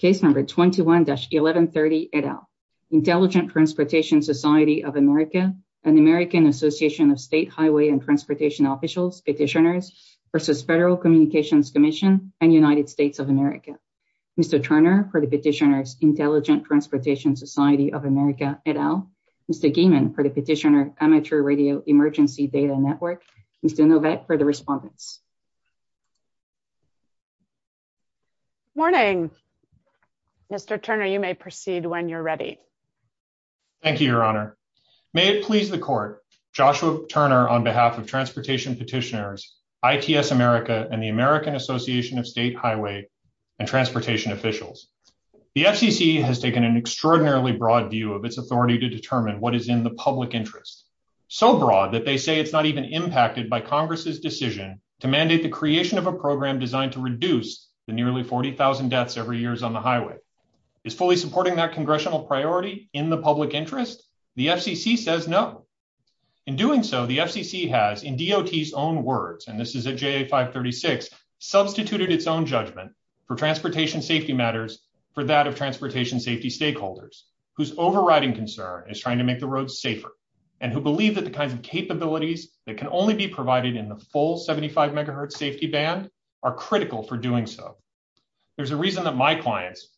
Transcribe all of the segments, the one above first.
Case number 21-1130 et al. Intelligent Transportation Society of America, an American Association of State Highway and Transportation Officials Petitioners versus Federal Communications Commission and United States of America. Mr. Turner for the petitioners Intelligent Transportation Society of America et al. Mr. Geeman for the petitioner Amateur Radio Emergency Data Network. Mr. Novak for the respondents. Morning. Mr. Turner, you may proceed when you're ready. Thank you, Your Honor. May it please the court, Joshua Turner on behalf of Transportation Petitioners, ITS America, and the American Association of State Highway and Transportation Officials. The FCC has taken an extraordinarily broad view of its authority to determine what is in the public interest. So broad that they say it's not even impacted by Congress's decision to mandate the creation of a program designed to reduce the nearly 40,000 deaths every year on the highway. Is fully supporting that congressional priority in the public interest? The FCC says no. In doing so, the FCC has, in DOT's own words, and this is at JA 536, substituted its own judgment for transportation safety matters for that of transportation safety stakeholders whose overriding concern is trying to make the roads safer and who believe that the ban are critical for doing so. There's a reason that my clients,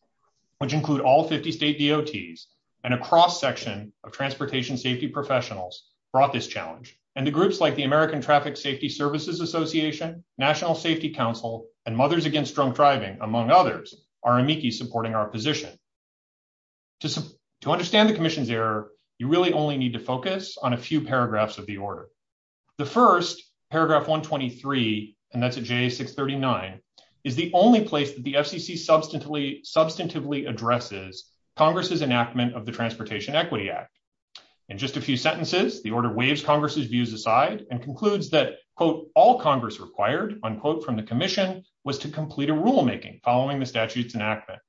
which include all 50 state DOTs and a cross section of transportation safety professionals, brought this challenge. And the groups like the American Traffic Safety Services Association, National Safety Council, and Mothers Against Drunk Driving, among others, are amici supporting our position. To understand the commission's error, you really only need to focus on a few paragraphs of the order. The first, paragraph 123, and that's at JA 639, is the only place that the FCC substantively addresses Congress's enactment of the Transportation Equity Act. In just a few sentences, the order waves Congress's views aside and concludes that, quote, all Congress required, unquote, from the commission was to complete a rulemaking following the statute's enactment.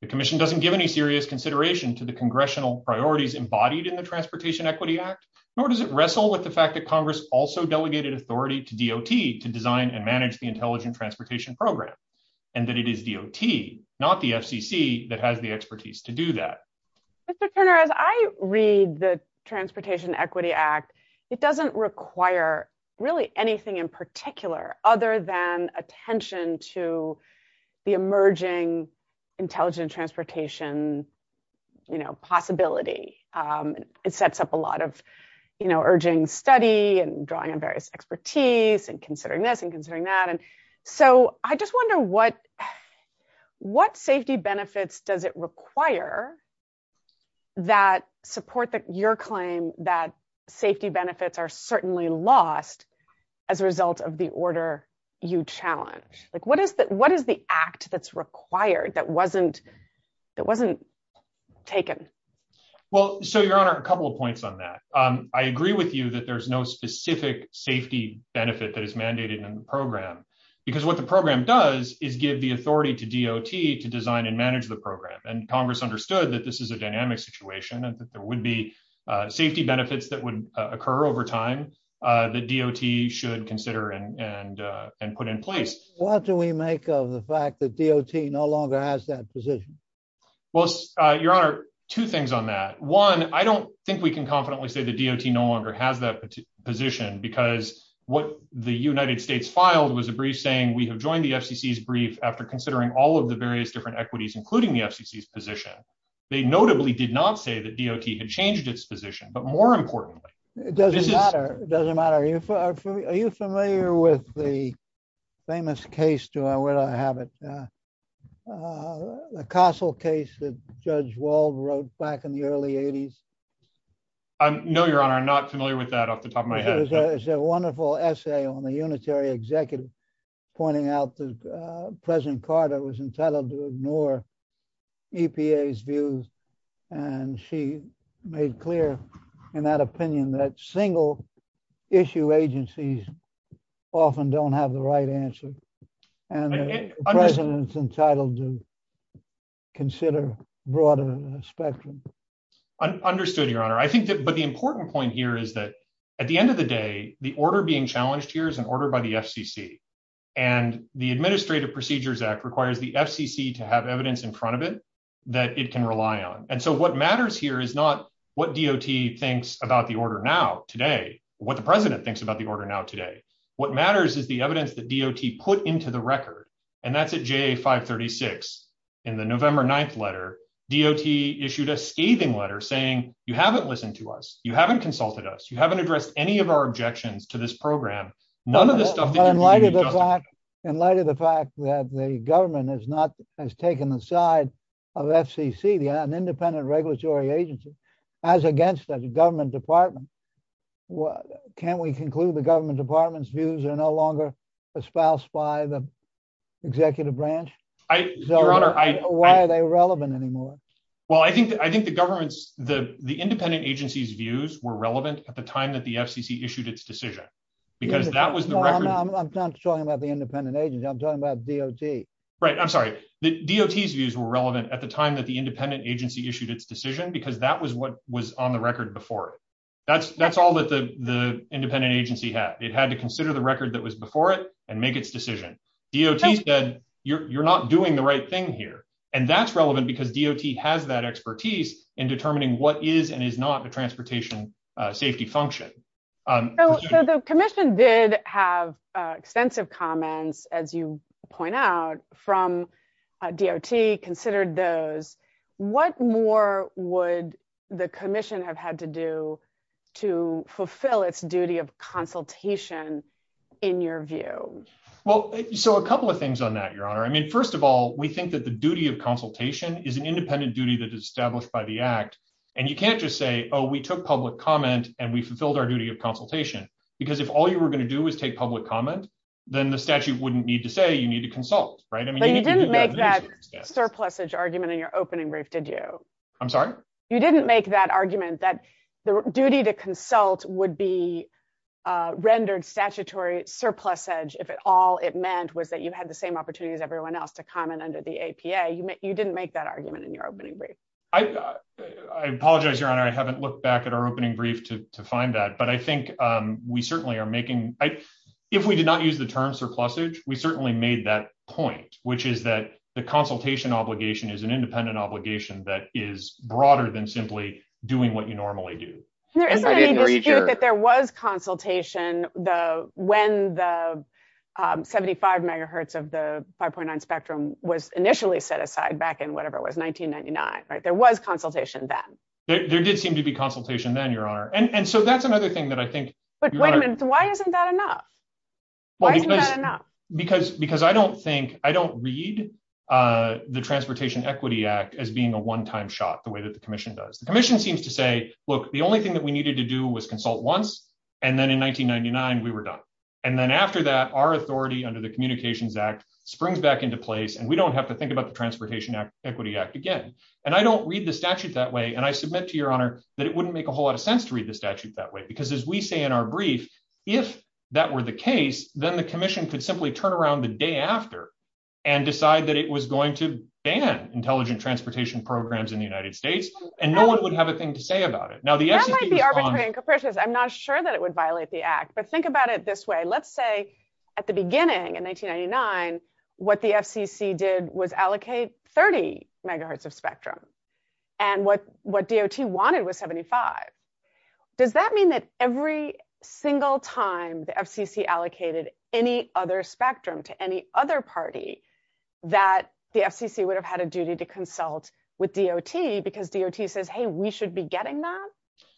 The commission doesn't give any serious consideration to the congressional priorities embodied in the Transportation Equity Act, nor does it wrestle with the fact that Congress also delegated authority to DOT to design and manage the Intelligent Transportation Program, and that it is DOT, not the FCC, that has the expertise to do that. Mr. Turner, as I read the Transportation Equity Act, it doesn't require really anything in particular other than attention to the emerging intelligent transportation, you know, possibility. It sets up a lot of, you know, urging study and drawing on various expertise and considering this and considering that, and so I just wonder what safety benefits does it require that support your claim that safety benefits are certainly lost as a result of the order you challenge? Like, what is the act that's required that wasn't taken? Well, so, Your Honor, a couple of points on that. I agree with you that there's no specific safety benefit that is mandated in the program, because what the program does is give the authority to DOT to design and manage the program, and Congress understood that this is a dynamic situation and that there would be safety benefits that would occur over time that DOT should consider and put in place. What do we make of the fact that DOT no longer has that position? Well, Your Honor, two things on that. One, I don't think we can confidently say that DOT no longer has that position, because what the United States filed was a brief saying, we have joined the FCC's brief after considering all of the various different equities, including the FCC's position. They notably did not say that DOT had changed its position, but more importantly, it doesn't matter. It doesn't matter. Are you familiar with the famous case, where do I have it, the Castle case that Judge Wald wrote back in the early 80s? No, Your Honor, I'm not familiar with that off the top of my head. It's a wonderful essay on the unitary executive pointing out that President Carter was entitled to ignore EPA's views, and she made clear in that opinion that single issue agencies often don't have the right answer, and the President's entitled to consider broader spectrum. Understood, Your Honor. But the important point here is that at the end of the day, the order being challenged here is an order by the FCC, and the Administrative Procedures Act requires the FCC to have evidence in front of it that it can rely on. And so what matters here is not what DOT thinks about the order now, today, what the President thinks about the order now, today. What matters is the evidence that DOT put into the record, and that's at JA 536 in the November 9th letter, DOT issued a scathing letter saying, you haven't listened to us, you haven't consulted us, you haven't addressed any of our objections to this program, none of the stuff that you're going to be discussing. In light of the fact that the government has taken the side of FCC, an independent regulatory agency, as against the government department, can't we conclude the government department's views are no longer espoused by the executive branch? Why are they relevant anymore? Well, I think the government's, the independent agency's views were relevant at the time that the FCC issued its decision, because that was the record. I'm not talking about the independent agency, I'm talking about DOT. Right, I'm sorry. DOT's views were relevant at the time that the independent agency issued its decision, because that was what was on the record before it. That's all that the independent agency had. It had to consider the record that was before it and make its decision. DOT said, you're not doing the right thing here. And that's relevant because DOT has that expertise in determining what is and is not a transportation safety function. So the commission did have extensive comments, as you point out, from DOT considered those. What more would the commission have had to do to fulfill its duty of consultation in your view? Well, so a couple of things on that, Your Honor. I mean, first of all, we think that the duty of consultation is an independent duty that is established by the act. And you can't just say, oh, we took public comment, and we fulfilled our duty of consultation. Because if all you were going to do is take public comment, then the statute wouldn't need to say you need to consult, right? But you didn't make that surplusage argument in your opening brief, did you? I'm sorry? You didn't make that argument that the duty to consult would be rendered statutory surplusage if all it meant was that you had the same opportunity as everyone else to comment under the APA. You didn't make that argument in your opening brief. I apologize, Your Honor. I haven't looked back at our opening brief to find that. But I think we certainly are making, if we did not use the term surplusage, we certainly made that point, which is that the consultation obligation is an independent obligation that is broader than simply doing what you normally do. There is a dispute that there was consultation when the 75 megahertz of the 5.9 spectrum was initially set aside back in whatever it was, 1999, right? There was consultation then. There did seem to be consultation then, Your Honor. And so that's another thing that I think- But wait a minute. Why isn't that enough? Why isn't that enough? Because I don't think, I don't read the Transportation Equity Act as being a one-time shot the way that the commission does. The commission seems to say, look, the only thing we needed to do was consult once, and then in 1999, we were done. And then after that, our authority under the Communications Act springs back into place, and we don't have to think about the Transportation Equity Act again. And I don't read the statute that way, and I submit to Your Honor that it wouldn't make a whole lot of sense to read the statute that way. Because as we say in our brief, if that were the case, then the commission could simply turn around the day after and decide that it was going to ban intelligent transportation programs in the United States, and no one would have a thing to say about it. Now, the FCC- That might be arbitrary and capricious. I'm not sure that it would violate the act, but think about it this way. Let's say at the beginning in 1999, what the FCC did was allocate 30 megahertz of spectrum. And what DOT wanted was 75. Does that mean that every single time the FCC allocated any other spectrum to any other party that the FCC would have had a duty to consult, DOT says, hey, we should be getting that?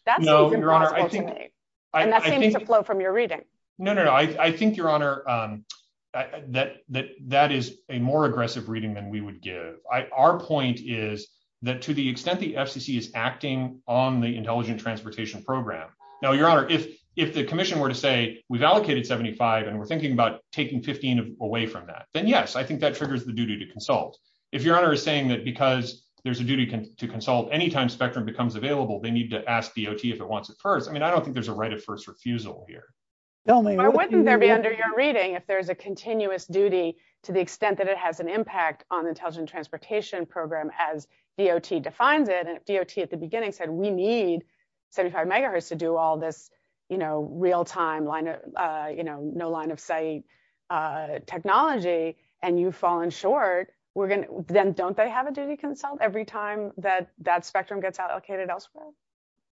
That's impossible to me. And that seems to flow from your reading. No, no, no. I think, Your Honor, that is a more aggressive reading than we would give. Our point is that to the extent the FCC is acting on the intelligent transportation program... Now, Your Honor, if the commission were to say, we've allocated 75, and we're thinking about taking 15 away from that, then yes, I think that triggers the duty to consult. If Your Honor is saying that because there's a duty to consult any time spectrum becomes available, they need to ask DOT if it wants it first, I mean, I don't think there's a right of first refusal here. But wouldn't there be under your reading if there's a continuous duty to the extent that it has an impact on the intelligent transportation program as DOT defines it? And if DOT at the beginning said, we need 75 megahertz to do all this real-time, no line-of-sight technology, and you've fallen short, then don't they have a duty to consult every time that that spectrum gets allocated elsewhere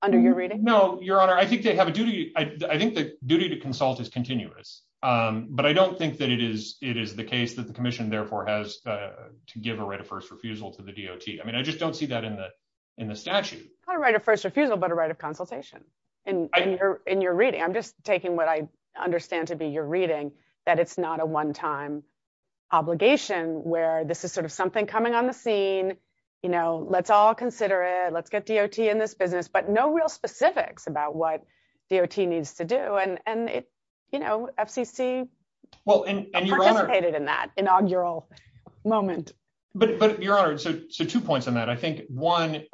under your reading? No, Your Honor, I think they have a duty. I think the duty to consult is continuous. But I don't think that it is the case that the commission therefore has to give a right of first refusal to the DOT. I mean, I just don't see that in the statute. Not a right of first refusal, but a right of consultation in your reading. I'm just taking what I understand to be your reading, that it's not a one-time obligation where this is sort of something coming on the scene, you know, let's all consider it, let's get DOT in this business, but no real specifics about what DOT needs to do. And, you know, FCC participated in that inaugural moment. But Your Honor, so two points on that. I think, one,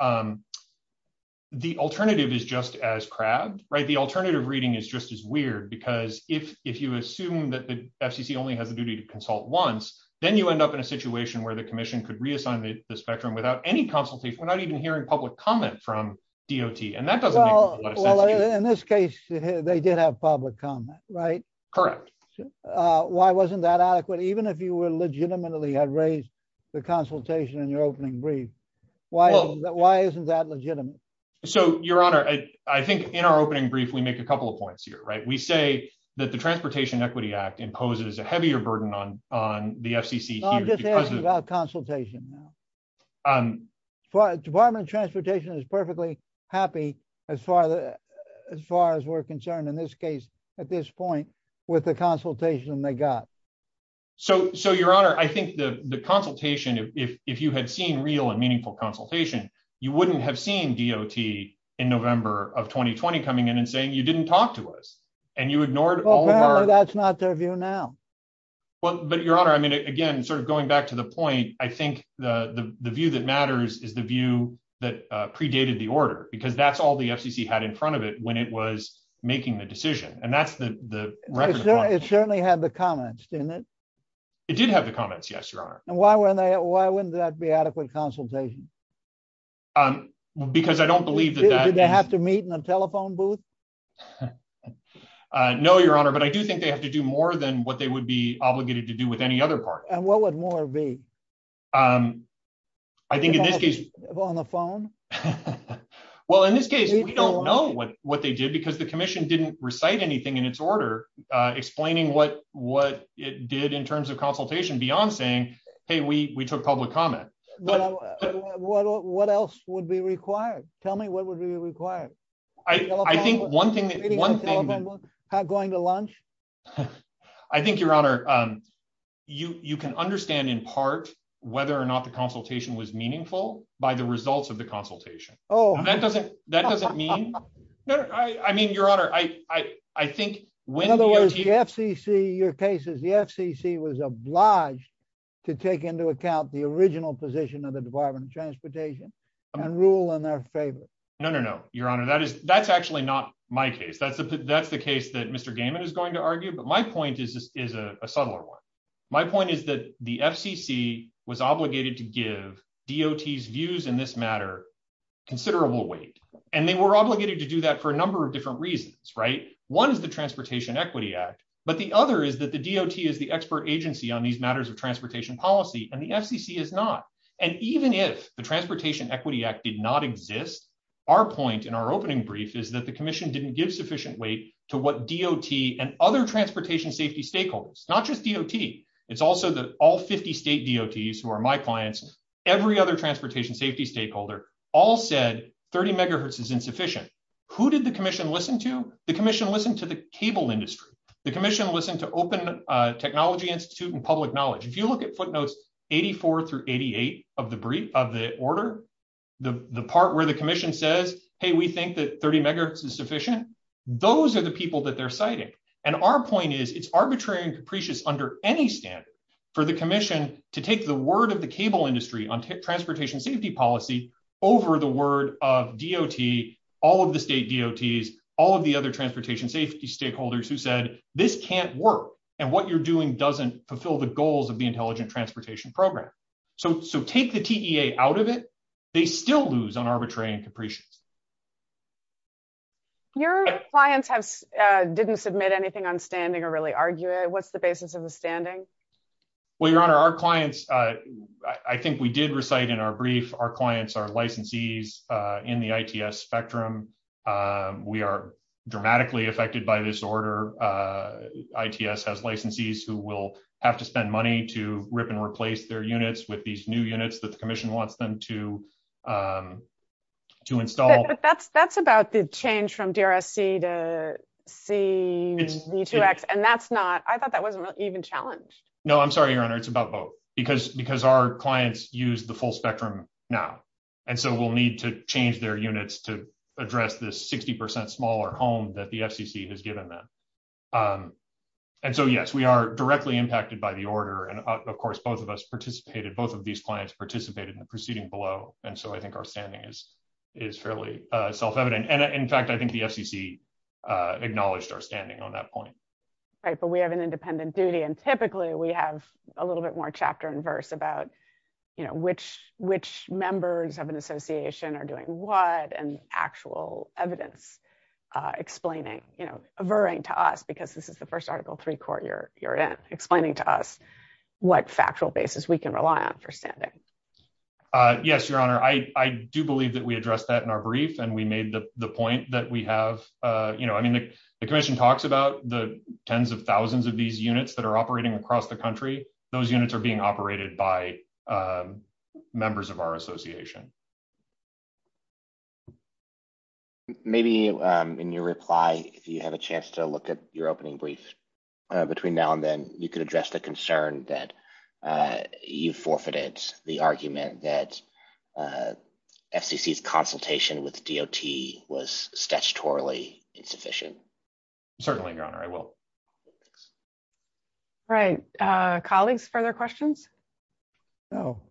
the alternative is just as crabbed, the alternative reading is just as weird, because if you assume that the FCC only has a duty to consult once, then you end up in a situation where the commission could reassign the spectrum without any consultation, we're not even hearing public comment from DOT, and that doesn't make a lot of sense. Well, in this case, they did have public comment, right? Correct. Why wasn't that adequate, even if you were legitimately had raised the consultation in your opening brief? Well, why isn't that legitimate? So, Your Honor, I think in our opening brief, we make a couple of points here, right? We say that the Transportation Equity Act imposes a heavier burden on the FCC. I'm just asking about consultation now. Department of Transportation is perfectly happy as far as we're concerned, in this case, at this point, with the consultation they got. So, Your Honor, I think the consultation, if you had seen real and meaningful consultation, you wouldn't have seen DOT in November of 2020 coming in and saying, you didn't talk to us, and you ignored all of our... Apparently, that's not their view now. But Your Honor, I mean, again, sort of going back to the point, I think the view that matters is the view that predated the order, because that's all the FCC had in front of it when it was passed. It did have the comments, didn't it? It did have the comments, yes, Your Honor. And why wouldn't that be adequate consultation? Because I don't believe that... Did they have to meet in a telephone booth? No, Your Honor, but I do think they have to do more than what they would be obligated to do with any other party. And what would more be? I think in this case... On the phone? Well, in this case, we don't know what they did, because the commission didn't recite anything in its order explaining what it did in terms of consultation beyond saying, hey, we took public comment. What else would be required? Tell me, what would be required? I think one thing... Going to lunch? I think, Your Honor, you can understand in part whether or not the consultation was meaningful by the results of the consultation. That doesn't mean... No, I mean, Your Honor, I think the FCC... Your case is the FCC was obliged to take into account the original position of the Department of Transportation and rule in their favor. No, no, no, Your Honor, that's actually not my case. That's the case that Mr. Gaiman is going to argue, but my point is a subtler one. My point is that the FCC was obligated to give DOT's views in this matter considerable weight. And they were obligated to do that for a number of different reasons, right? One is the Transportation Equity Act, but the other is that the DOT is the expert agency on these matters of transportation policy, and the FCC is not. And even if the Transportation Equity Act did not exist, our point in our opening brief is that the commission didn't give sufficient weight to what DOT and other transportation safety stakeholders, not just DOT, it's also that all 50 state DOTs who are my clients, every other transportation safety stakeholder, all said 30 megahertz is insufficient. Who did the commission listen to? The commission listened to the cable industry. The commission listened to Open Technology Institute and Public Knowledge. If you look at footnotes 84 through 88 of the order, the part where the commission says, hey, we think that 30 megahertz is sufficient, those are the people that they're citing. And our point is it's arbitrary and capricious under any standard for the commission to take the word of the cable industry on transportation safety policy over the word of DOT, all of the state DOTs, all of the other transportation safety stakeholders who said, this can't work, and what you're doing doesn't fulfill the goals of the Intelligent Transportation Program. So take the TEA out of it. They still lose on arbitrary and capricious. Your clients didn't submit anything on standing or really argue it. What's the clients? I think we did recite in our brief, our clients are licensees in the ITS spectrum. We are dramatically affected by this order. ITS has licensees who will have to spend money to rip and replace their units with these new units that the commission wants them to install. But that's about the change from DRSC to CZ2X, and that's not, I thought that wasn't even challenged. No, I'm sorry, your honor. It's about both because our clients use the full spectrum now. And so we'll need to change their units to address this 60% smaller home that the FCC has given them. And so, yes, we are directly impacted by the order. And of course, both of us participated, both of these clients participated in the proceeding below. And so I think our standing is fairly self-evident. And in fact, I think the FCC acknowledged our standing on that point. Right. But we have an independent duty and typically we have a little bit more chapter and verse about, you know, which members of an association are doing what and actual evidence explaining, you know, averring to us, because this is the first article three court you're in, explaining to us what factual basis we can rely on for standing. Yes, your honor. I do believe that we addressed that in our brief and we made the point that we tens of thousands of these units that are operating across the country, those units are being operated by members of our association. Maybe in your reply, if you have a chance to look at your opening brief between now and then you could address the concern that you forfeited the argument that FCC's consultation with DOT was statutorily insufficient. Certainly, your honor, I will. Right. Colleagues, further questions? No.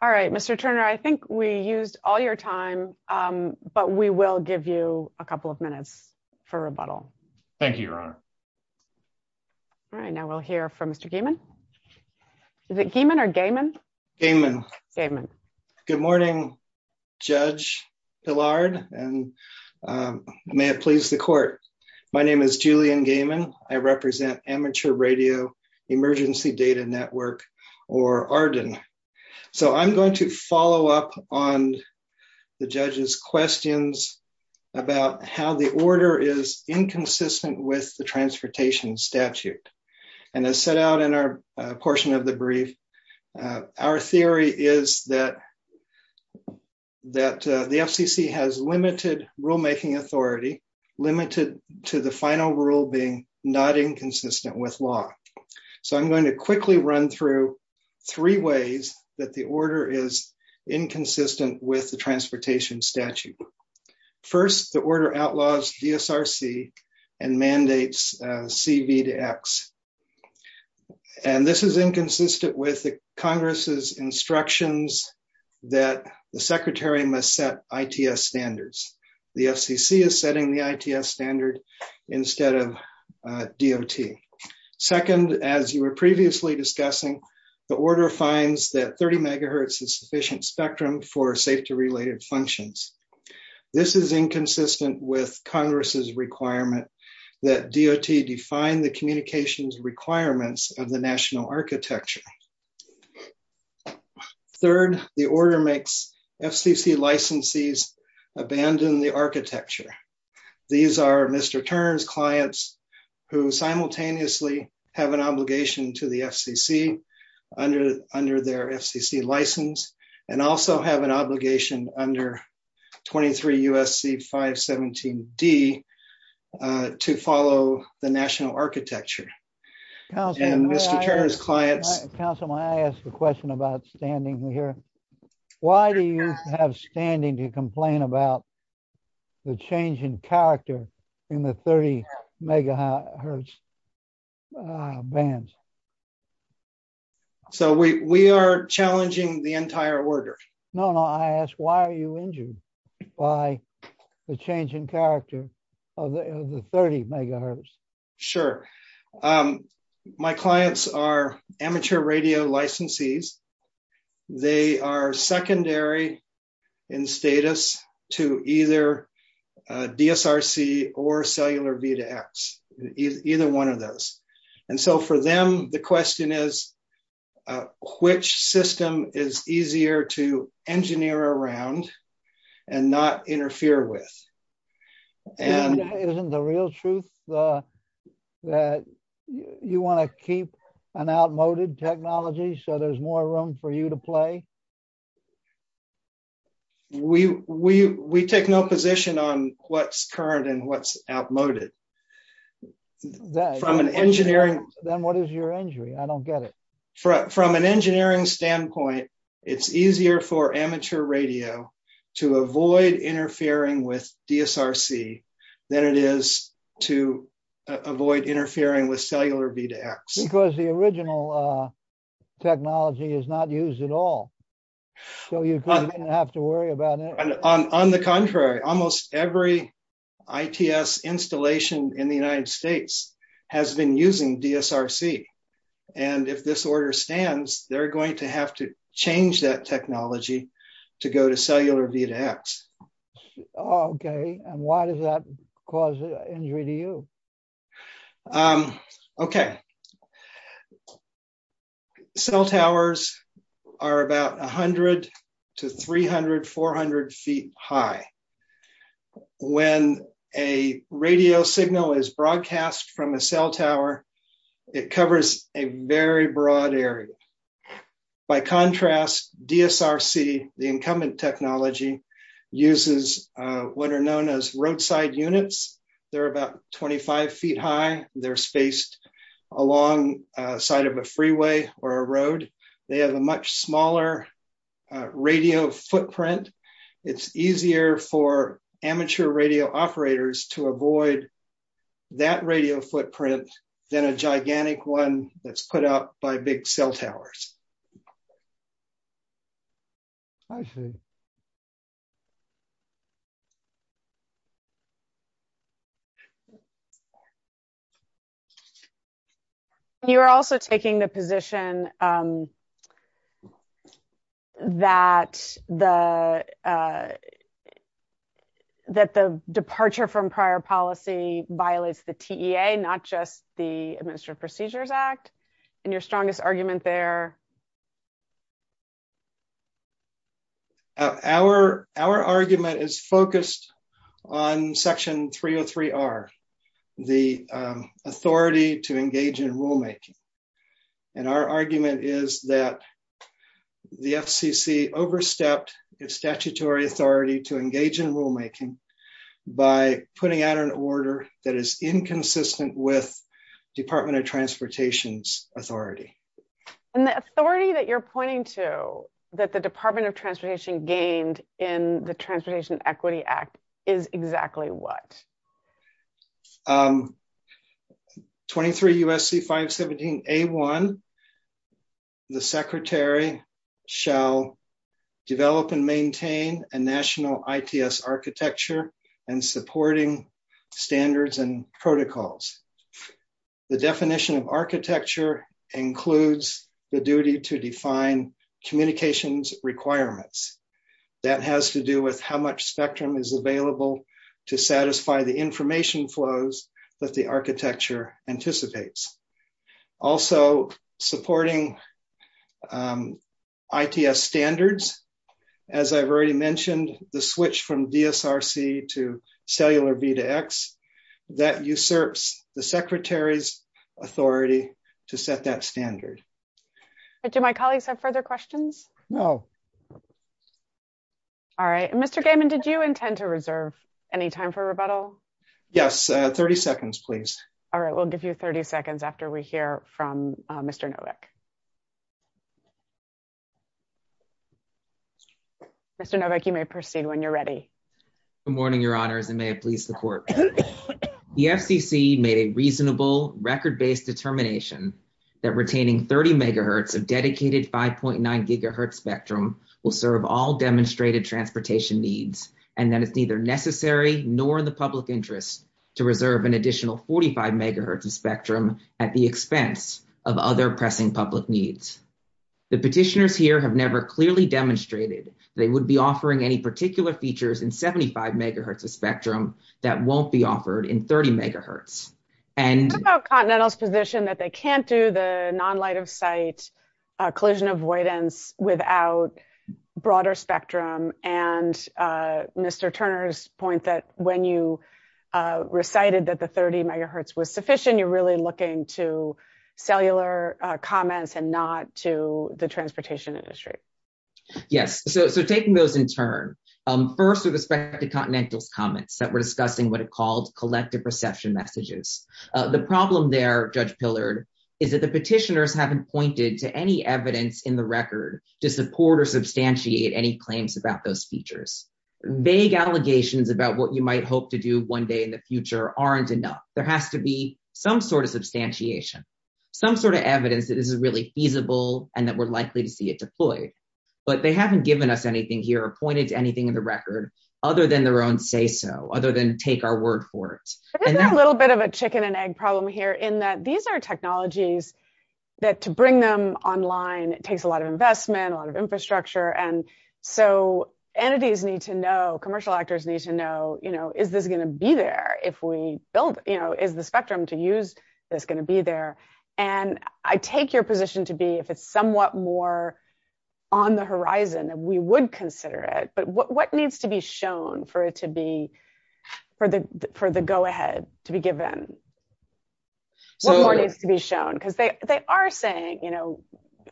All right. Mr. Turner, I think we used all your time, but we will give you a couple of minutes for rebuttal. Thank you, your honor. All right. Now we'll hear from Mr. Geeman. Is it Geeman or Gayman? Gayman. Gayman. Good morning, Judge Pillard, and may it please the court. My name is Julian Gayman. I represent Amateur Radio Emergency Data Network, or ARDN. So I'm going to follow up on the judge's questions about how the order is inconsistent with the transportation statute. And as set out in our portion of the brief, our theory is that the FCC has limited rulemaking authority, limited to the final rule being not inconsistent with law. So I'm going to quickly run through three ways that the order is inconsistent with the transportation statute. First, the order outlaws DSRC and mandates CV to X. And this is inconsistent with the Congress's instructions that the Secretary must set ITS standards. The FCC is setting the ITS standard instead of DOT. Second, as you were previously discussing, the order finds that 30 megahertz is sufficient spectrum for safety-related functions. This is inconsistent with Congress's requirement that DOT define the communications requirements of the national architecture. Third, the order makes FCC licensees abandon the architecture. These are Mr. Tern's clients who simultaneously have an obligation to the FCC under their FCC license and also have an obligation under 23 U.S.C. 517D to follow the national architecture. And Mr. Tern's clients... Councillor, may I ask a question about standing here? Why do you have standing to complain about the change in character in the 30 megahertz bands? So we are challenging the entire order. No, no. I asked why are you injured by the change in character of the 30 megahertz? Sure. My clients are amateur radio licensees. They are secondary in status to either DSRC or cellular V to X. Either one of those. And so for them, the question is which system is easier to engineer around and not interfere with. And isn't the real truth that you want to keep an outmoded technology so there's more room for you to play? We take no position on what's current and what's outmoded. From an engineering... Then what is your injury? I don't get it. From an engineering standpoint, it's easier for amateur radio to avoid interfering with DSRC than it is to avoid interfering with cellular V to X. Because the original technology is not used at all. So you don't have to worry about it. On the contrary, almost every ITS installation in the United States has been using DSRC. And if this order stands, they're going to have to change that technology to go to cellular V to X. Okay. And why does that cause injury to you? Okay. Cell towers are about 100 to 300, 400 feet high. When a radio signal is broadcast from a cell tower, it covers a very broad area. By contrast, DSRC, the incumbent technology, uses what are known as roadside units. They're about 25 feet high. They're spaced alongside of a freeway or a road. They have a much smaller radio footprint. It's easier for amateur radio operators to avoid that radio footprint than a gigantic one that's put up by big cell towers. I see. And you're also taking the position that the departure from prior policy violates the TEA, not just the Administrative Procedures Act. And your strongest argument there? Our argument is focused on Section 303. 303R, the authority to engage in rulemaking. And our argument is that the FCC overstepped its statutory authority to engage in rulemaking by putting out an order that is inconsistent with Department of Transportation's authority. And the authority that you're pointing to that the Department of Transportation gained in the Transportation Equity Act is exactly what? 23 U.S.C. 517A1, the Secretary shall develop and maintain a national ITS architecture and supporting standards and protocols. The definition of architecture includes the duty to define communications requirements. That has to do with how much spectrum is available to satisfy the information flows that the architecture anticipates. Also, supporting ITS standards. As I've already mentioned, the switch from DSRC to cellular V2X, that usurps the Secretary's authority to set that standard. Do my colleagues have further questions? No. All right. Mr. Gaiman, did you intend to reserve any time for rebuttal? Yes. 30 seconds, please. All right. We'll give you 30 seconds after we hear from Mr. Nowak. Mr. Nowak, you may proceed when you're ready. Good morning, Your Honors, and may it please the Court. The FCC made a reasonable, record-based determination that retaining 30 megahertz of dedicated 5.9 gigahertz spectrum will serve all demonstrated transportation needs, and that it's neither necessary nor in the public interest to reserve an additional 45 megahertz of spectrum at the expense of other pressing public needs. The petitioners here have never clearly demonstrated they would be offering any particular features in 75 megahertz of spectrum that won't be offered in 30 megahertz. What about Continental's position that they can't do the non-light-of-sight collision avoidance without broader spectrum? And Mr. Turner's point that when you recited that the 30 megahertz was sufficient, you're really looking to cellular comments and not to the transportation industry. Yes. So taking those in turn, first with respect to Continental's comments that were discussing what it called collective reception messages, the problem there, Judge Pillard, is that the petitioners haven't pointed to any evidence in the record to support or substantiate any claims about those features. Vague allegations about what you might hope to do one day in the future aren't enough. There has to be some sort of substantiation, some sort of evidence that this is really feasible and that we're likely to see it deployed. But they haven't given us anything here or pointed to anything in the record other than their own say-so, other than take our word for it. There's a little bit of a chicken and egg problem here in that these are technologies that to bring them online, it takes a lot of investment, a lot of infrastructure. And so entities need to know, commercial actors need to know, is this going to be there if we build, is the spectrum to use this going to be there? And I take your position to be, if it's somewhat more on the horizon, we would consider it. But what needs to be shown for the go-ahead to be given? What more needs to be shown? Because they are saying,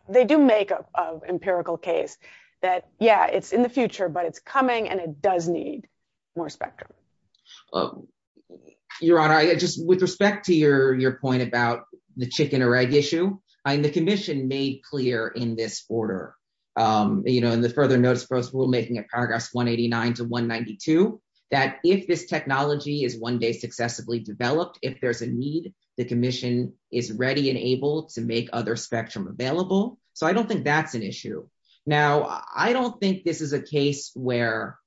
they do make an empirical case that, yeah, it's in the future, but it's coming and it does need more spectrum. Your Honor, just with respect to your point about the chicken or egg issue, the commission made clear in this order, you know, in the further notice for us we're making at paragraphs 189 to 192, that if this technology is one day successively developed, if there's a need, the commission is ready and able to make other spectrum available. So I don't think that's an issue. Now, I don't think this is a case where,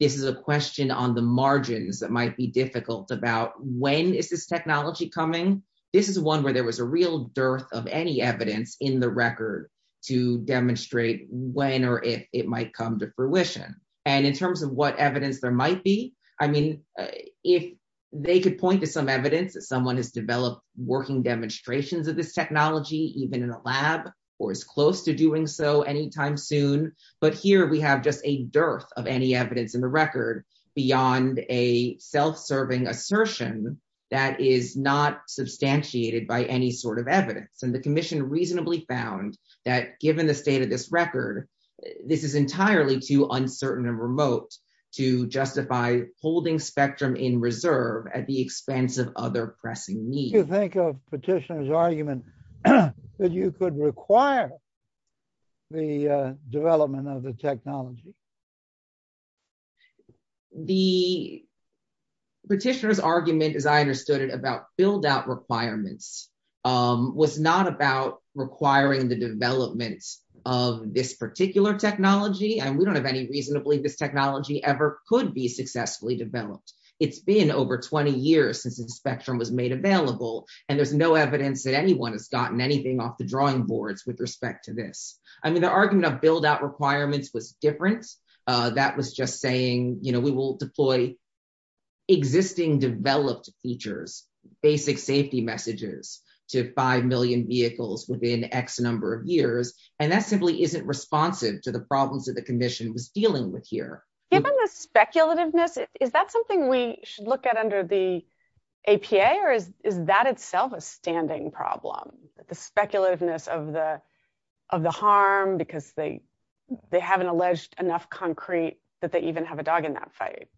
this is a question on the margins that might be difficult about when is this technology coming? This is one where there was a real dearth of any evidence in the record to demonstrate when or if it might come to fruition. And in terms of what evidence there might be, I mean, if they could point to some evidence that someone has developed working demonstrations of this technology, even in a lab, or is close to doing so anytime soon, but here we have just a dearth of any evidence in the record beyond a self-serving assertion that is not substantiated by any sort of evidence. And the commission reasonably found that given the state of this record, this is entirely too uncertain and remote to justify holding spectrum in reserve at the expense of other pressing needs. Do you think of petitioner's argument that you could require the development of the technology? The petitioner's argument, as I understood it, about build-out requirements was not about requiring the development of this particular technology. And we don't have any reason to believe this technology ever could be successfully developed. It's been over 20 years since the spectrum was made available. And there's no evidence that anyone has gotten anything off the drawing boards with respect to this. I mean, the argument of build-out requirements was different. That was just saying, we will deploy existing developed features, basic safety messages to 5 million vehicles within X number of years. And that simply isn't responsive to the problems that the commission was dealing with here. Given the speculativeness, is that something we should look at under the APA or is that itself a standing problem? The speculativeness of the harm because they haven't alleged enough concrete that they even have a dog in that fight.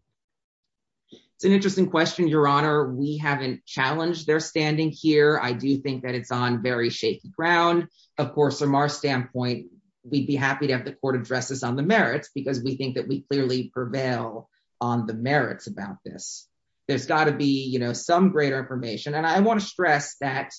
It's an interesting question, Your Honor. We haven't challenged their standing here. I do think that it's on very shaky ground. Of course, from our standpoint, we'd be happy to have the court address this on the merits because we think that we clearly prevail on the merits about this. There's gotta be some greater information. And I wanna stress that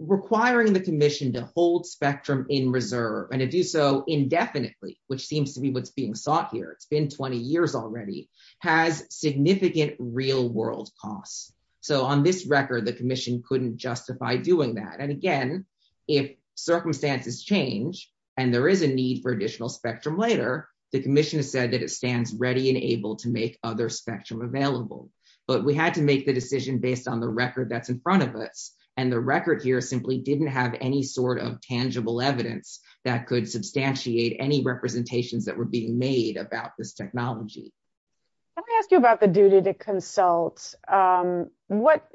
requiring the commission to hold spectrum in reserve and to do so indefinitely, which seems to be what's being sought here, it's been 20 years already, has significant real world costs. So on this record, the commission couldn't justify doing that. And again, if circumstances change and there is a need for additional spectrum later, the commission has said that it stands ready and able to make other spectrum available. But we had to make the decision based on the record that's in front of us. And the record here simply didn't have any sort of tangible evidence that could substantiate any representations that were being made about this technology. Can I ask you about the duty to consult? What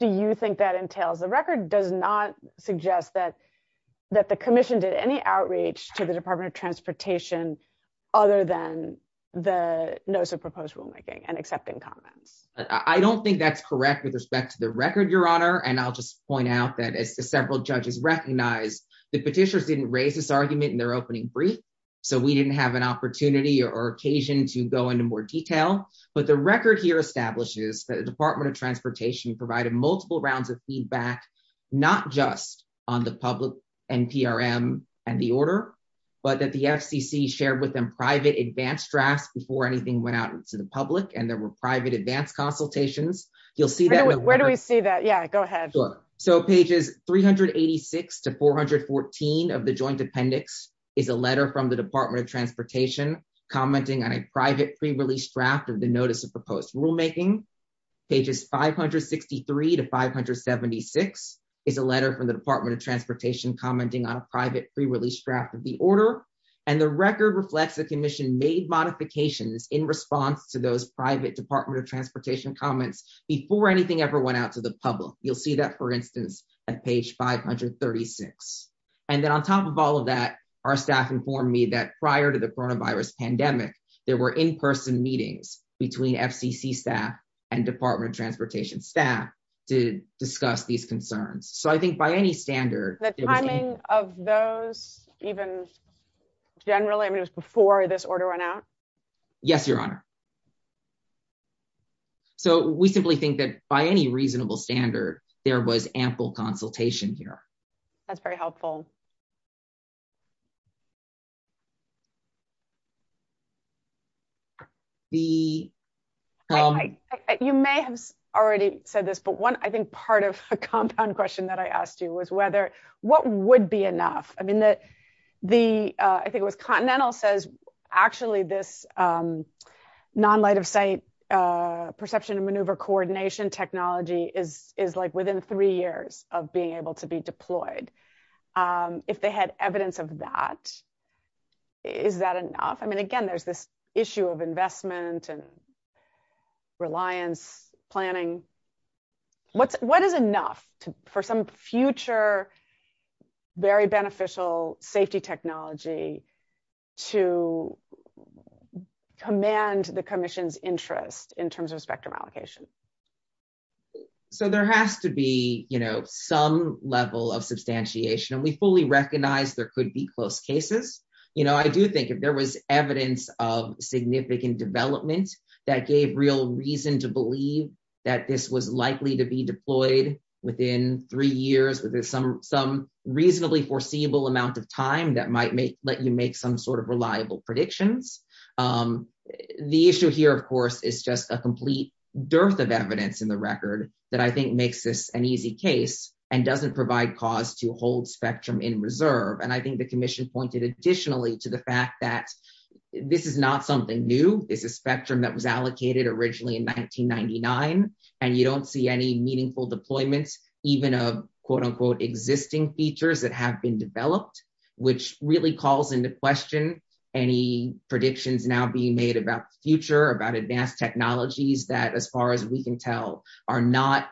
do you think that entails? The record does not suggest that the commission did any outreach to the Department of Transportation other than the notice of proposed rulemaking and accepting comments. I don't think that's correct with respect to the record, Your Honor. And I'll just point out that as several judges recognized, the petitioners didn't raise this argument in their opening brief. So we didn't have an opportunity or occasion to go into more detail. But the record here establishes that the Department of Transportation provided multiple rounds of feedback, not just on the public and PRM and the order, but that the FCC shared with them private advanced drafts before anything went out to the public and there were private advanced consultations. You'll see that- Where do we see that? Yeah, go ahead. So pages 386 to 414 of the joint appendix is a letter from the Department of Transportation commenting on a private pre-release draft of the notice of proposed rulemaking. Pages 563 to 576 is a letter from the Department of Transportation commenting on a private pre-release draft of the order. And the record reflects the commission made modifications in response to those private Department of Transportation comments before anything ever went out to the public. You'll see that, for instance, at page 536. And then on top of all of that, our staff informed me that prior to the coronavirus pandemic, there were in-person meetings between FCC staff and Department of Transportation staff to discuss these concerns. So I think by any standard- The timing of those even generally, I mean, it was before this order went out? Yes, Your Honor. So we simply think that by any reasonable standard, there was ample consultation here. That's very helpful. The- You may have already said this, but one, I think part of a compound question that I asked you was whether, what would be enough? I mean, I think it was Continental says, actually this non-light-of-sight perception and maneuver coordination technology is like within three years of being able to be deployed. If they had evidence of that, is that enough? I mean, again, there's this issue of investment and reliance planning. What is enough for some future, very beneficial safety technology to command the commission's interest in terms of spectrum allocation? So there has to be some level of substantiation and we fully recognize there could be close cases. I do think if there was evidence of significant development that gave real reason to believe that this was likely to be deployed within three years, within some reasonably foreseeable amount of time that might let you make some sort of reliable predictions. The issue here, of course, is just a complete dearth of evidence in the record that I think makes this an easy case and doesn't provide cause to hold spectrum in reserve. And I think the commission pointed additionally to the fact that this is not something new. This is spectrum that was allocated originally in 1999 and you don't see any meaningful deployments, even a quote unquote existing features that have been developed, which really calls into question any predictions now being made about the future, about advanced technologies that as far as we can tell are not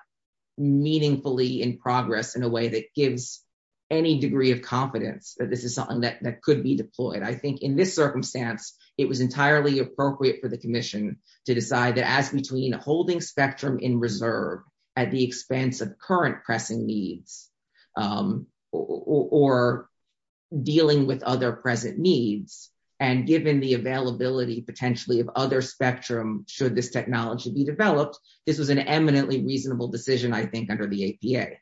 meaningfully in progress in a way that gives any degree of confidence that this is something that could be deployed. I think in this circumstance, it was entirely appropriate for the commission to decide that as between holding spectrum in reserve at the expense of current pressing needs or dealing with other present needs and given the availability potentially of other spectrum should this technology be developed, this was an eminently reasonable decision I think under the APA.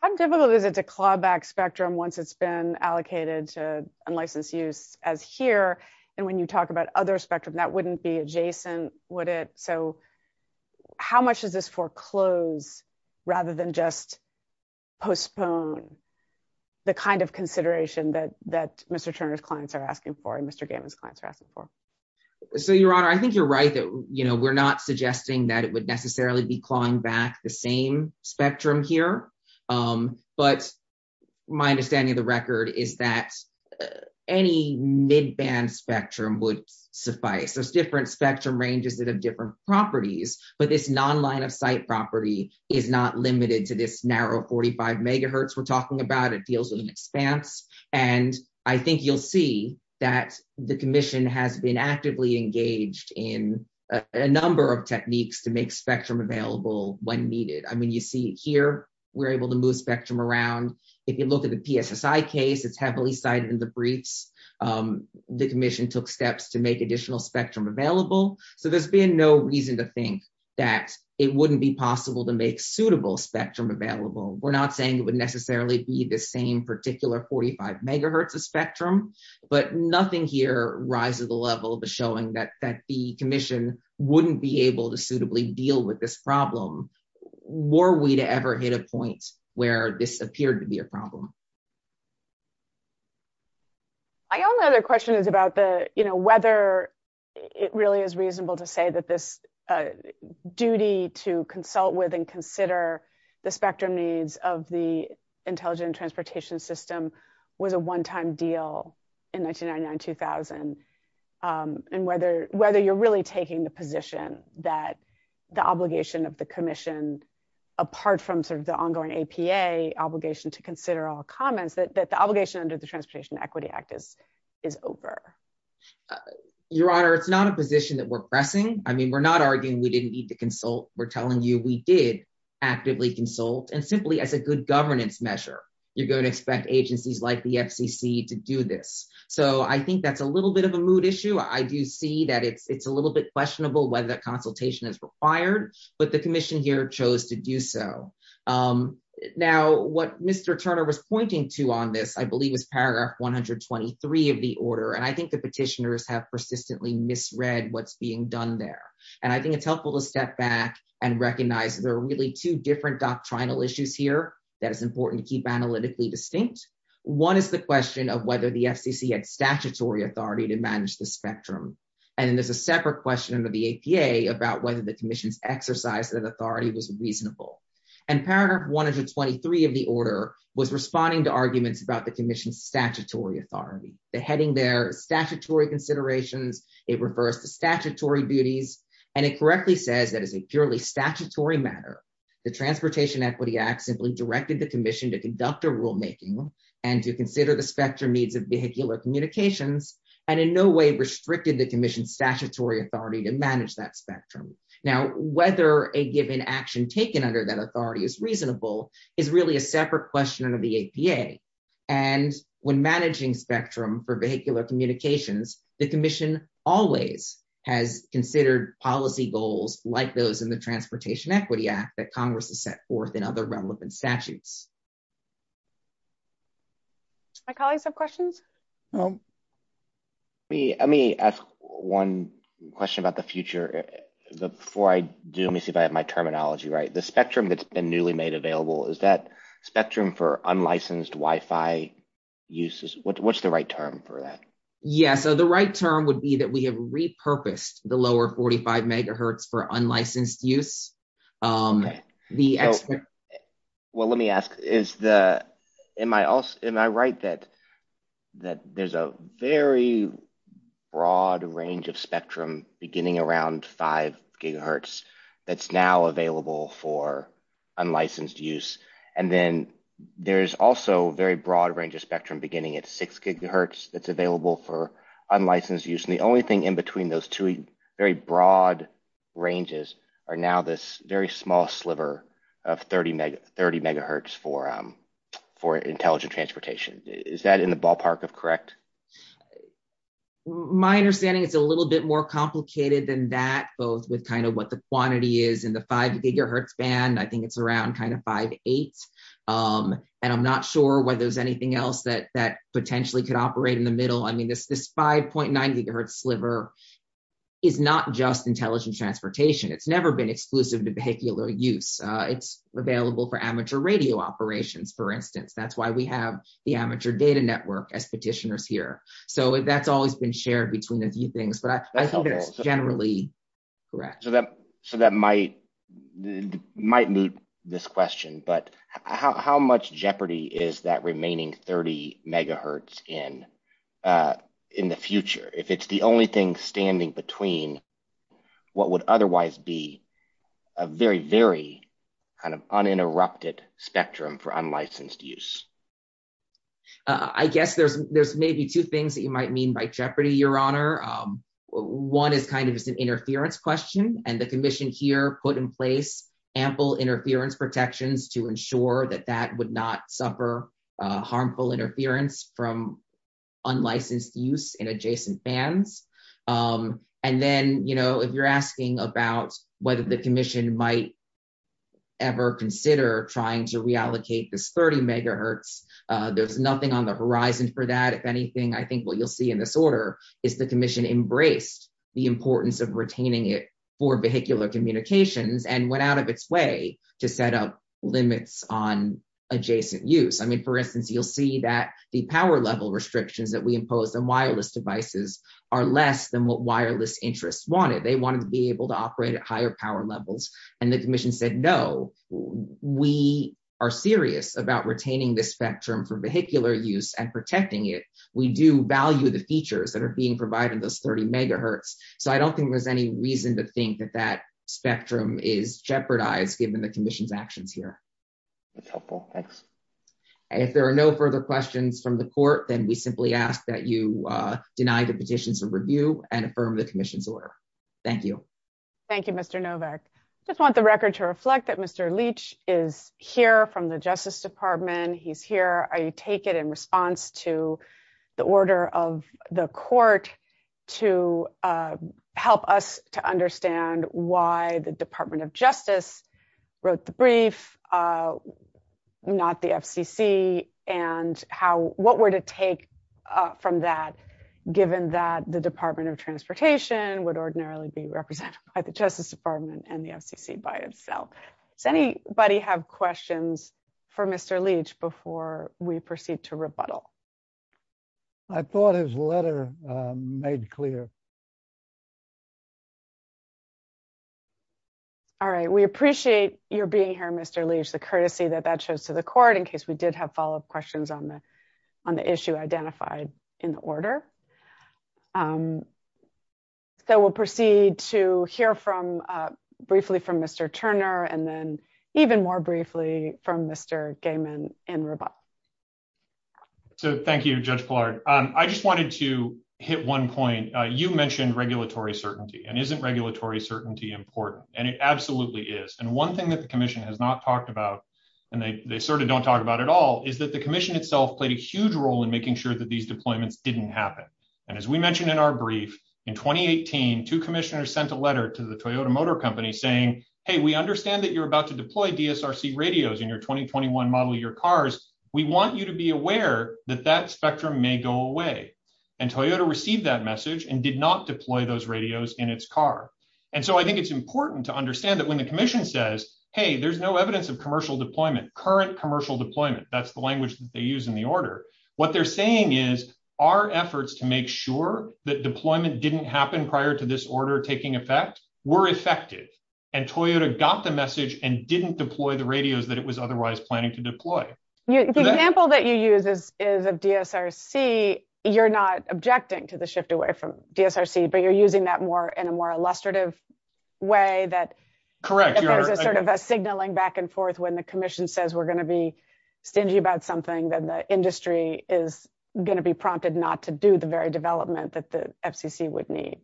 How difficult is it to claw back spectrum once it's been allocated to unlicensed use as here? And when you talk about other spectrum that wouldn't be adjacent, would it? So how much does this foreclose rather than just postpone the kind of consideration that Mr. Turner's clients are asking for and Mr. Gammon's clients are asking for? So your honor, I think you're right that we're not suggesting that it would necessarily be clawing back the same spectrum here, but my understanding of the record is that any mid band spectrum would suffice. So it's different spectrum ranges that have different properties, but this non-line of sight property is not limited to this narrow 45 megahertz we're talking about, it deals with an expanse. And I think you'll see that the commission has been actively engaged in a number of techniques to make spectrum available when needed. I mean, you see it here, we're able to move spectrum around. If you look at the PSSI case, it's heavily cited in the briefs. The commission took steps to make additional spectrum available. So there's been no reason to think that it wouldn't be possible to make suitable spectrum available. We're not saying it would necessarily be the same particular 45 megahertz of spectrum, but nothing here rises the level of the showing that the commission wouldn't be able to suitably deal with this problem. Were we to ever hit a point where this appeared to be a problem? My only other question is about the, whether it really is reasonable to say that this duty to consult with and consider the spectrum needs of the intelligent transportation system was a one-time deal in 1999, 2000. And whether you're really taking the position that the obligation of the commission, apart from sort of the ongoing APA obligation to consider all comments, that the obligation under the Transportation Equity Act is over. Your Honor, it's not a position that we're pressing. We're not arguing we didn't need to consult. We're telling you we did actively consult and simply as a good governance measure, you're going to expect agencies like the FCC to do this. So I think that's a little bit of a mood issue. I do see that it's a little bit questionable whether that consultation is required, but the commission here chose to do so. Now, what Mr. Turner was pointing to on this, I believe is paragraph 123 of the order. And I think the petitioners have persistently misread what's being done there. And I think it's helpful to step back and recognize there are really two different doctrinal issues here that is important to keep analytically distinct. One is the question of whether the FCC had statutory authority to manage the spectrum. And then there's a separate question under the APA about whether the commission's exercise of authority was reasonable. And paragraph 123 of the order was responding to arguments about the commission's statutory authority. The heading there, statutory considerations, it refers to statutory duties, and it correctly says that as a purely statutory matter, the Transportation Equity Act simply directed the commission to conduct a rulemaking and to consider the spectrum needs of vehicular communications, and in no way restricted the commission's statutory authority to manage that spectrum. Now, whether a given action taken under that authority is reasonable is really a separate question under the APA. And when managing spectrum for vehicular communications, the commission always has considered policy goals like those in the Transportation Equity Act that Congress has set forth in other relevant statutes. Do my colleagues have questions? Let me ask one question about the future. Before I do, let me see if I have my terminology right. The spectrum that's been newly made available, is that spectrum for unlicensed Wi-Fi uses? What's the right term for that? Yeah, so the right term would be that we have repurposed the lower 45 megahertz for unlicensed use. Well, let me ask, am I right that there's a very broad range of spectrum beginning around five gigahertz that's now available for unlicensed use? And then there's also very broad range of spectrum at six gigahertz that's available for unlicensed use. And the only thing in between those two very broad ranges are now this very small sliver of 30 megahertz for intelligent transportation. Is that in the ballpark of correct? My understanding, it's a little bit more complicated than that, both with kind of what the quantity is in the five gigahertz band. I think it's around kind of five, eight. And I'm not sure whether there's anything else that potentially could operate in the middle. I mean, this 5.9 gigahertz sliver is not just intelligent transportation. It's never been exclusive to vehicular use. It's available for amateur radio operations, for instance. That's why we have the amateur data network as petitioners here. So that's always been shared between a few things, but I think it's generally correct. So that might mute this question, but how much jeopardy is that remaining 30 megahertz in the future? If it's the only thing standing between what would otherwise be a very, very kind of uninterrupted spectrum for unlicensed use. I guess there's maybe two things that you might mean by jeopardy, your honor. One is kind of an interference question and the commission here put in place ample interference protections to ensure that that would not suffer harmful interference from unlicensed use in adjacent bands. And then if you're asking about whether the commission might ever consider trying to reallocate this 30 megahertz, there's nothing on the horizon for that. If anything, I think what you'll see in this order is the commission embraced the importance of retaining it for vehicular communications and went out of its way to set up limits on adjacent use. I mean, for instance, you'll see that the power level restrictions that we impose on wireless devices are less than what wireless interests wanted. They wanted to be able to operate at higher power levels and the commission said, no, we are serious about retaining this spectrum for vehicular use and protecting it. We do value the features that are being provided in those 30 megahertz. So I don't think there's any reason to think that that spectrum is jeopardized given the commission's actions here. That's helpful, thanks. If there are no further questions from the court, then we simply ask that you deny the petitions of review and affirm the commission's order. Thank you. Thank you, Mr. Novak. I just want the record to reflect that Mr. Leach is here from the justice department. He's here. I take it in response to the order of the court to help us to understand why the department of justice wrote the brief, not the FCC and what were to take from that given that the department of transportation would ordinarily be represented by the justice department and the FCC by itself. Does anybody have questions for Mr. Leach before we proceed to rebuttal? I thought his letter made clear. All right. We appreciate your being here, Mr. Leach, the courtesy that that shows to the court in case we did have follow-up questions on the issue identified in the order. So we'll proceed to hear briefly from Mr. Turner and then even more briefly from Mr. Gaiman in rebuttal. So thank you, Judge Pillard. I just wanted to hit one point. You mentioned regulatory certainty and isn't regulatory certainty important? And it absolutely is. And one thing that the commission has not talked about and they sort of don't talk about at all is that the commission itself played a huge role in making sure that these deployments didn't happen. And as we mentioned in our brief, in 2018, two commissioners sent a letter to the Toyota Motor Company saying, hey, we understand that you're about to deploy DSRC radios in your 2021 model year cars. We want you to be aware that that spectrum may go away. And Toyota received that message and did not deploy those radios in its car. And so I think it's important to understand that when the commission says, hey, there's no evidence of commercial deployment, current commercial deployment, that's the language that they use in the order. What they're saying is our efforts to make sure that deployment didn't happen prior to this order taking effect were effective. And Toyota got the message and didn't deploy the radios that it was otherwise planning to deploy. The example that you use is of DSRC, you're not objecting to the shift away from DSRC, but you're using that more in a more illustrative way that there's a sort of a signaling back and forth when the commission says we're gonna be stingy about something that the industry is gonna be prompted not to do the very development that the FCC would need.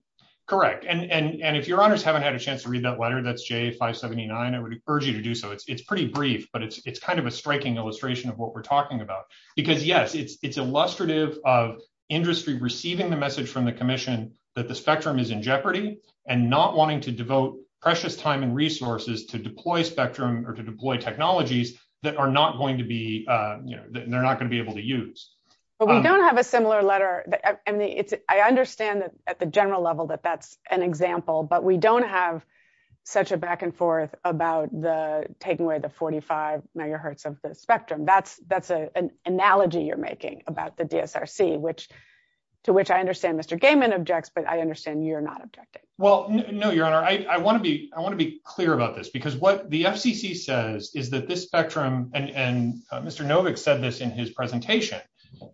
Correct, and if your honors haven't had a chance to read that letter, that's J579, I would urge you to do so. It's pretty brief, but it's kind of a striking illustration of what we're talking about. Because yes, it's illustrative of industry receiving the message from the commission that the spectrum is in jeopardy and not wanting to devote precious time and resources to deploy spectrum or to deploy technologies that they're not gonna be able to use. But we don't have a similar letter. I understand that at the general level that that's an example, but we don't have such a back and forth about the taking away the 45 megahertz of the spectrum. That's an analogy you're making about the DSRC, to which I understand Mr. Gaiman objects, but I understand you're not objecting. Well, no, your honor, I wanna be clear about this because what the FCC says is that this spectrum and Mr. Novick said this in his presentation.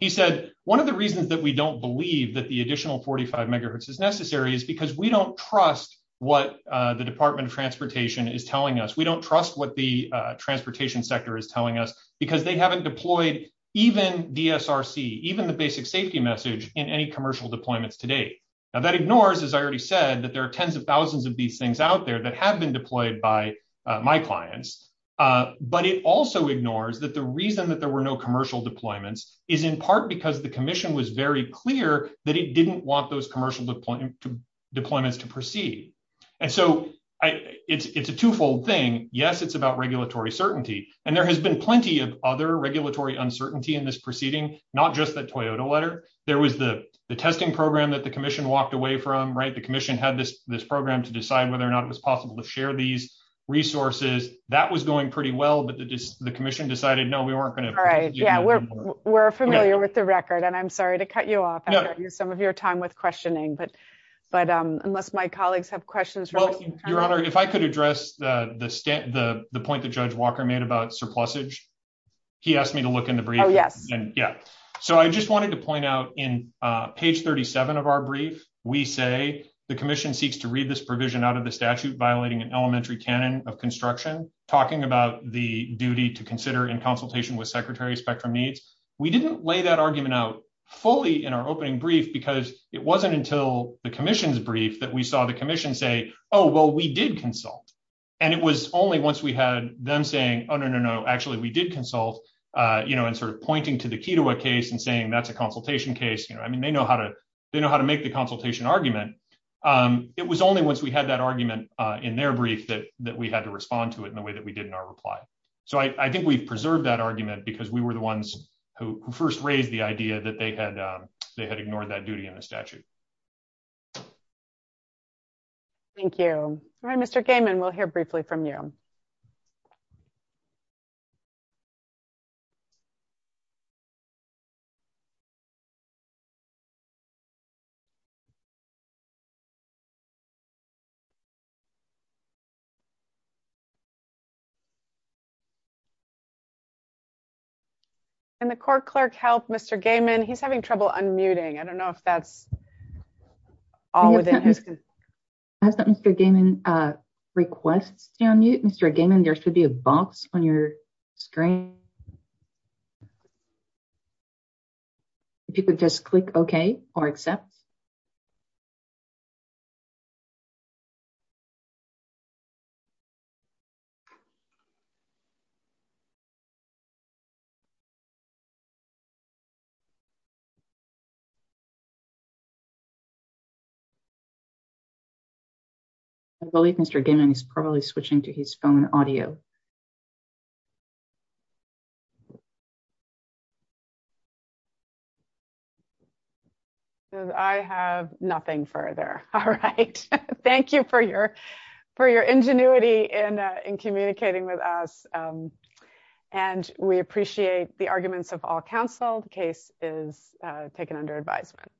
He said, one of the reasons that we don't believe that the additional 45 megahertz is necessary is because we don't trust what the Department of Transportation is telling us. We don't trust what the transportation sector is telling us because they haven't deployed even DSRC, even the basic safety message in any commercial deployments today. Now that ignores, as I already said, that there are tens of thousands of these things out there that have been deployed by my clients. But it also ignores that the reason that there were no commercial deployments is in part because the commission was very clear that it didn't want those commercial deployments to proceed. And so it's a two-fold thing. Yes, it's about regulatory certainty. And there has been plenty of other regulatory uncertainty in this proceeding, not just that Toyota letter. There was the testing program that the commission walked away from, right? The commission had this program to decide whether or not it was possible to share these resources. That was going pretty well, but the commission decided, no, we weren't gonna- All right, yeah, we're familiar with the record and I'm sorry to cut you off. I've got some of your time with questioning, but unless my colleagues have questions- Well, Your Honor, if I could address the point that Judge Walker made about surplusage. He asked me to look in the brief. Oh, yes. Yeah, so I just wanted to point out in page 37 of our brief, we say, the commission seeks to read this provision out of the statute violating an elementary canon of construction, talking about the duty to consider in consultation with Secretary Spectrum needs. We didn't lay that argument out fully in our opening brief because it wasn't until the commission's brief that we saw the commission say, oh, well, we did consult. And it was only once we had them saying, oh, no, no, no, actually we did consult and sort of pointing to the Ketawa case and saying, that's a consultation case. I mean, they know how to make the consultation argument. It was only once we had that argument in their brief that we had to respond to it in the way that we did in our reply. So I think we've preserved that argument because we were the ones who first raised the idea that they had ignored that duty in the statute. Thank you. All right, Mr. Gaiman, we'll hear briefly from you. And the court clerk helped Mr. Gaiman. He's having trouble unmuting. I don't know if that's all within his- Has that Mr. Gaiman requests to unmute? Mr. Gaiman, there should be a box on your screen. If you could just click okay or accept. I believe Mr. Gaiman is probably switching to his phone audio. I have nothing further. All right, thank you for your ingenuity in communicating with us. And we appreciate the arguments of all counsel. The case is taken under advisement.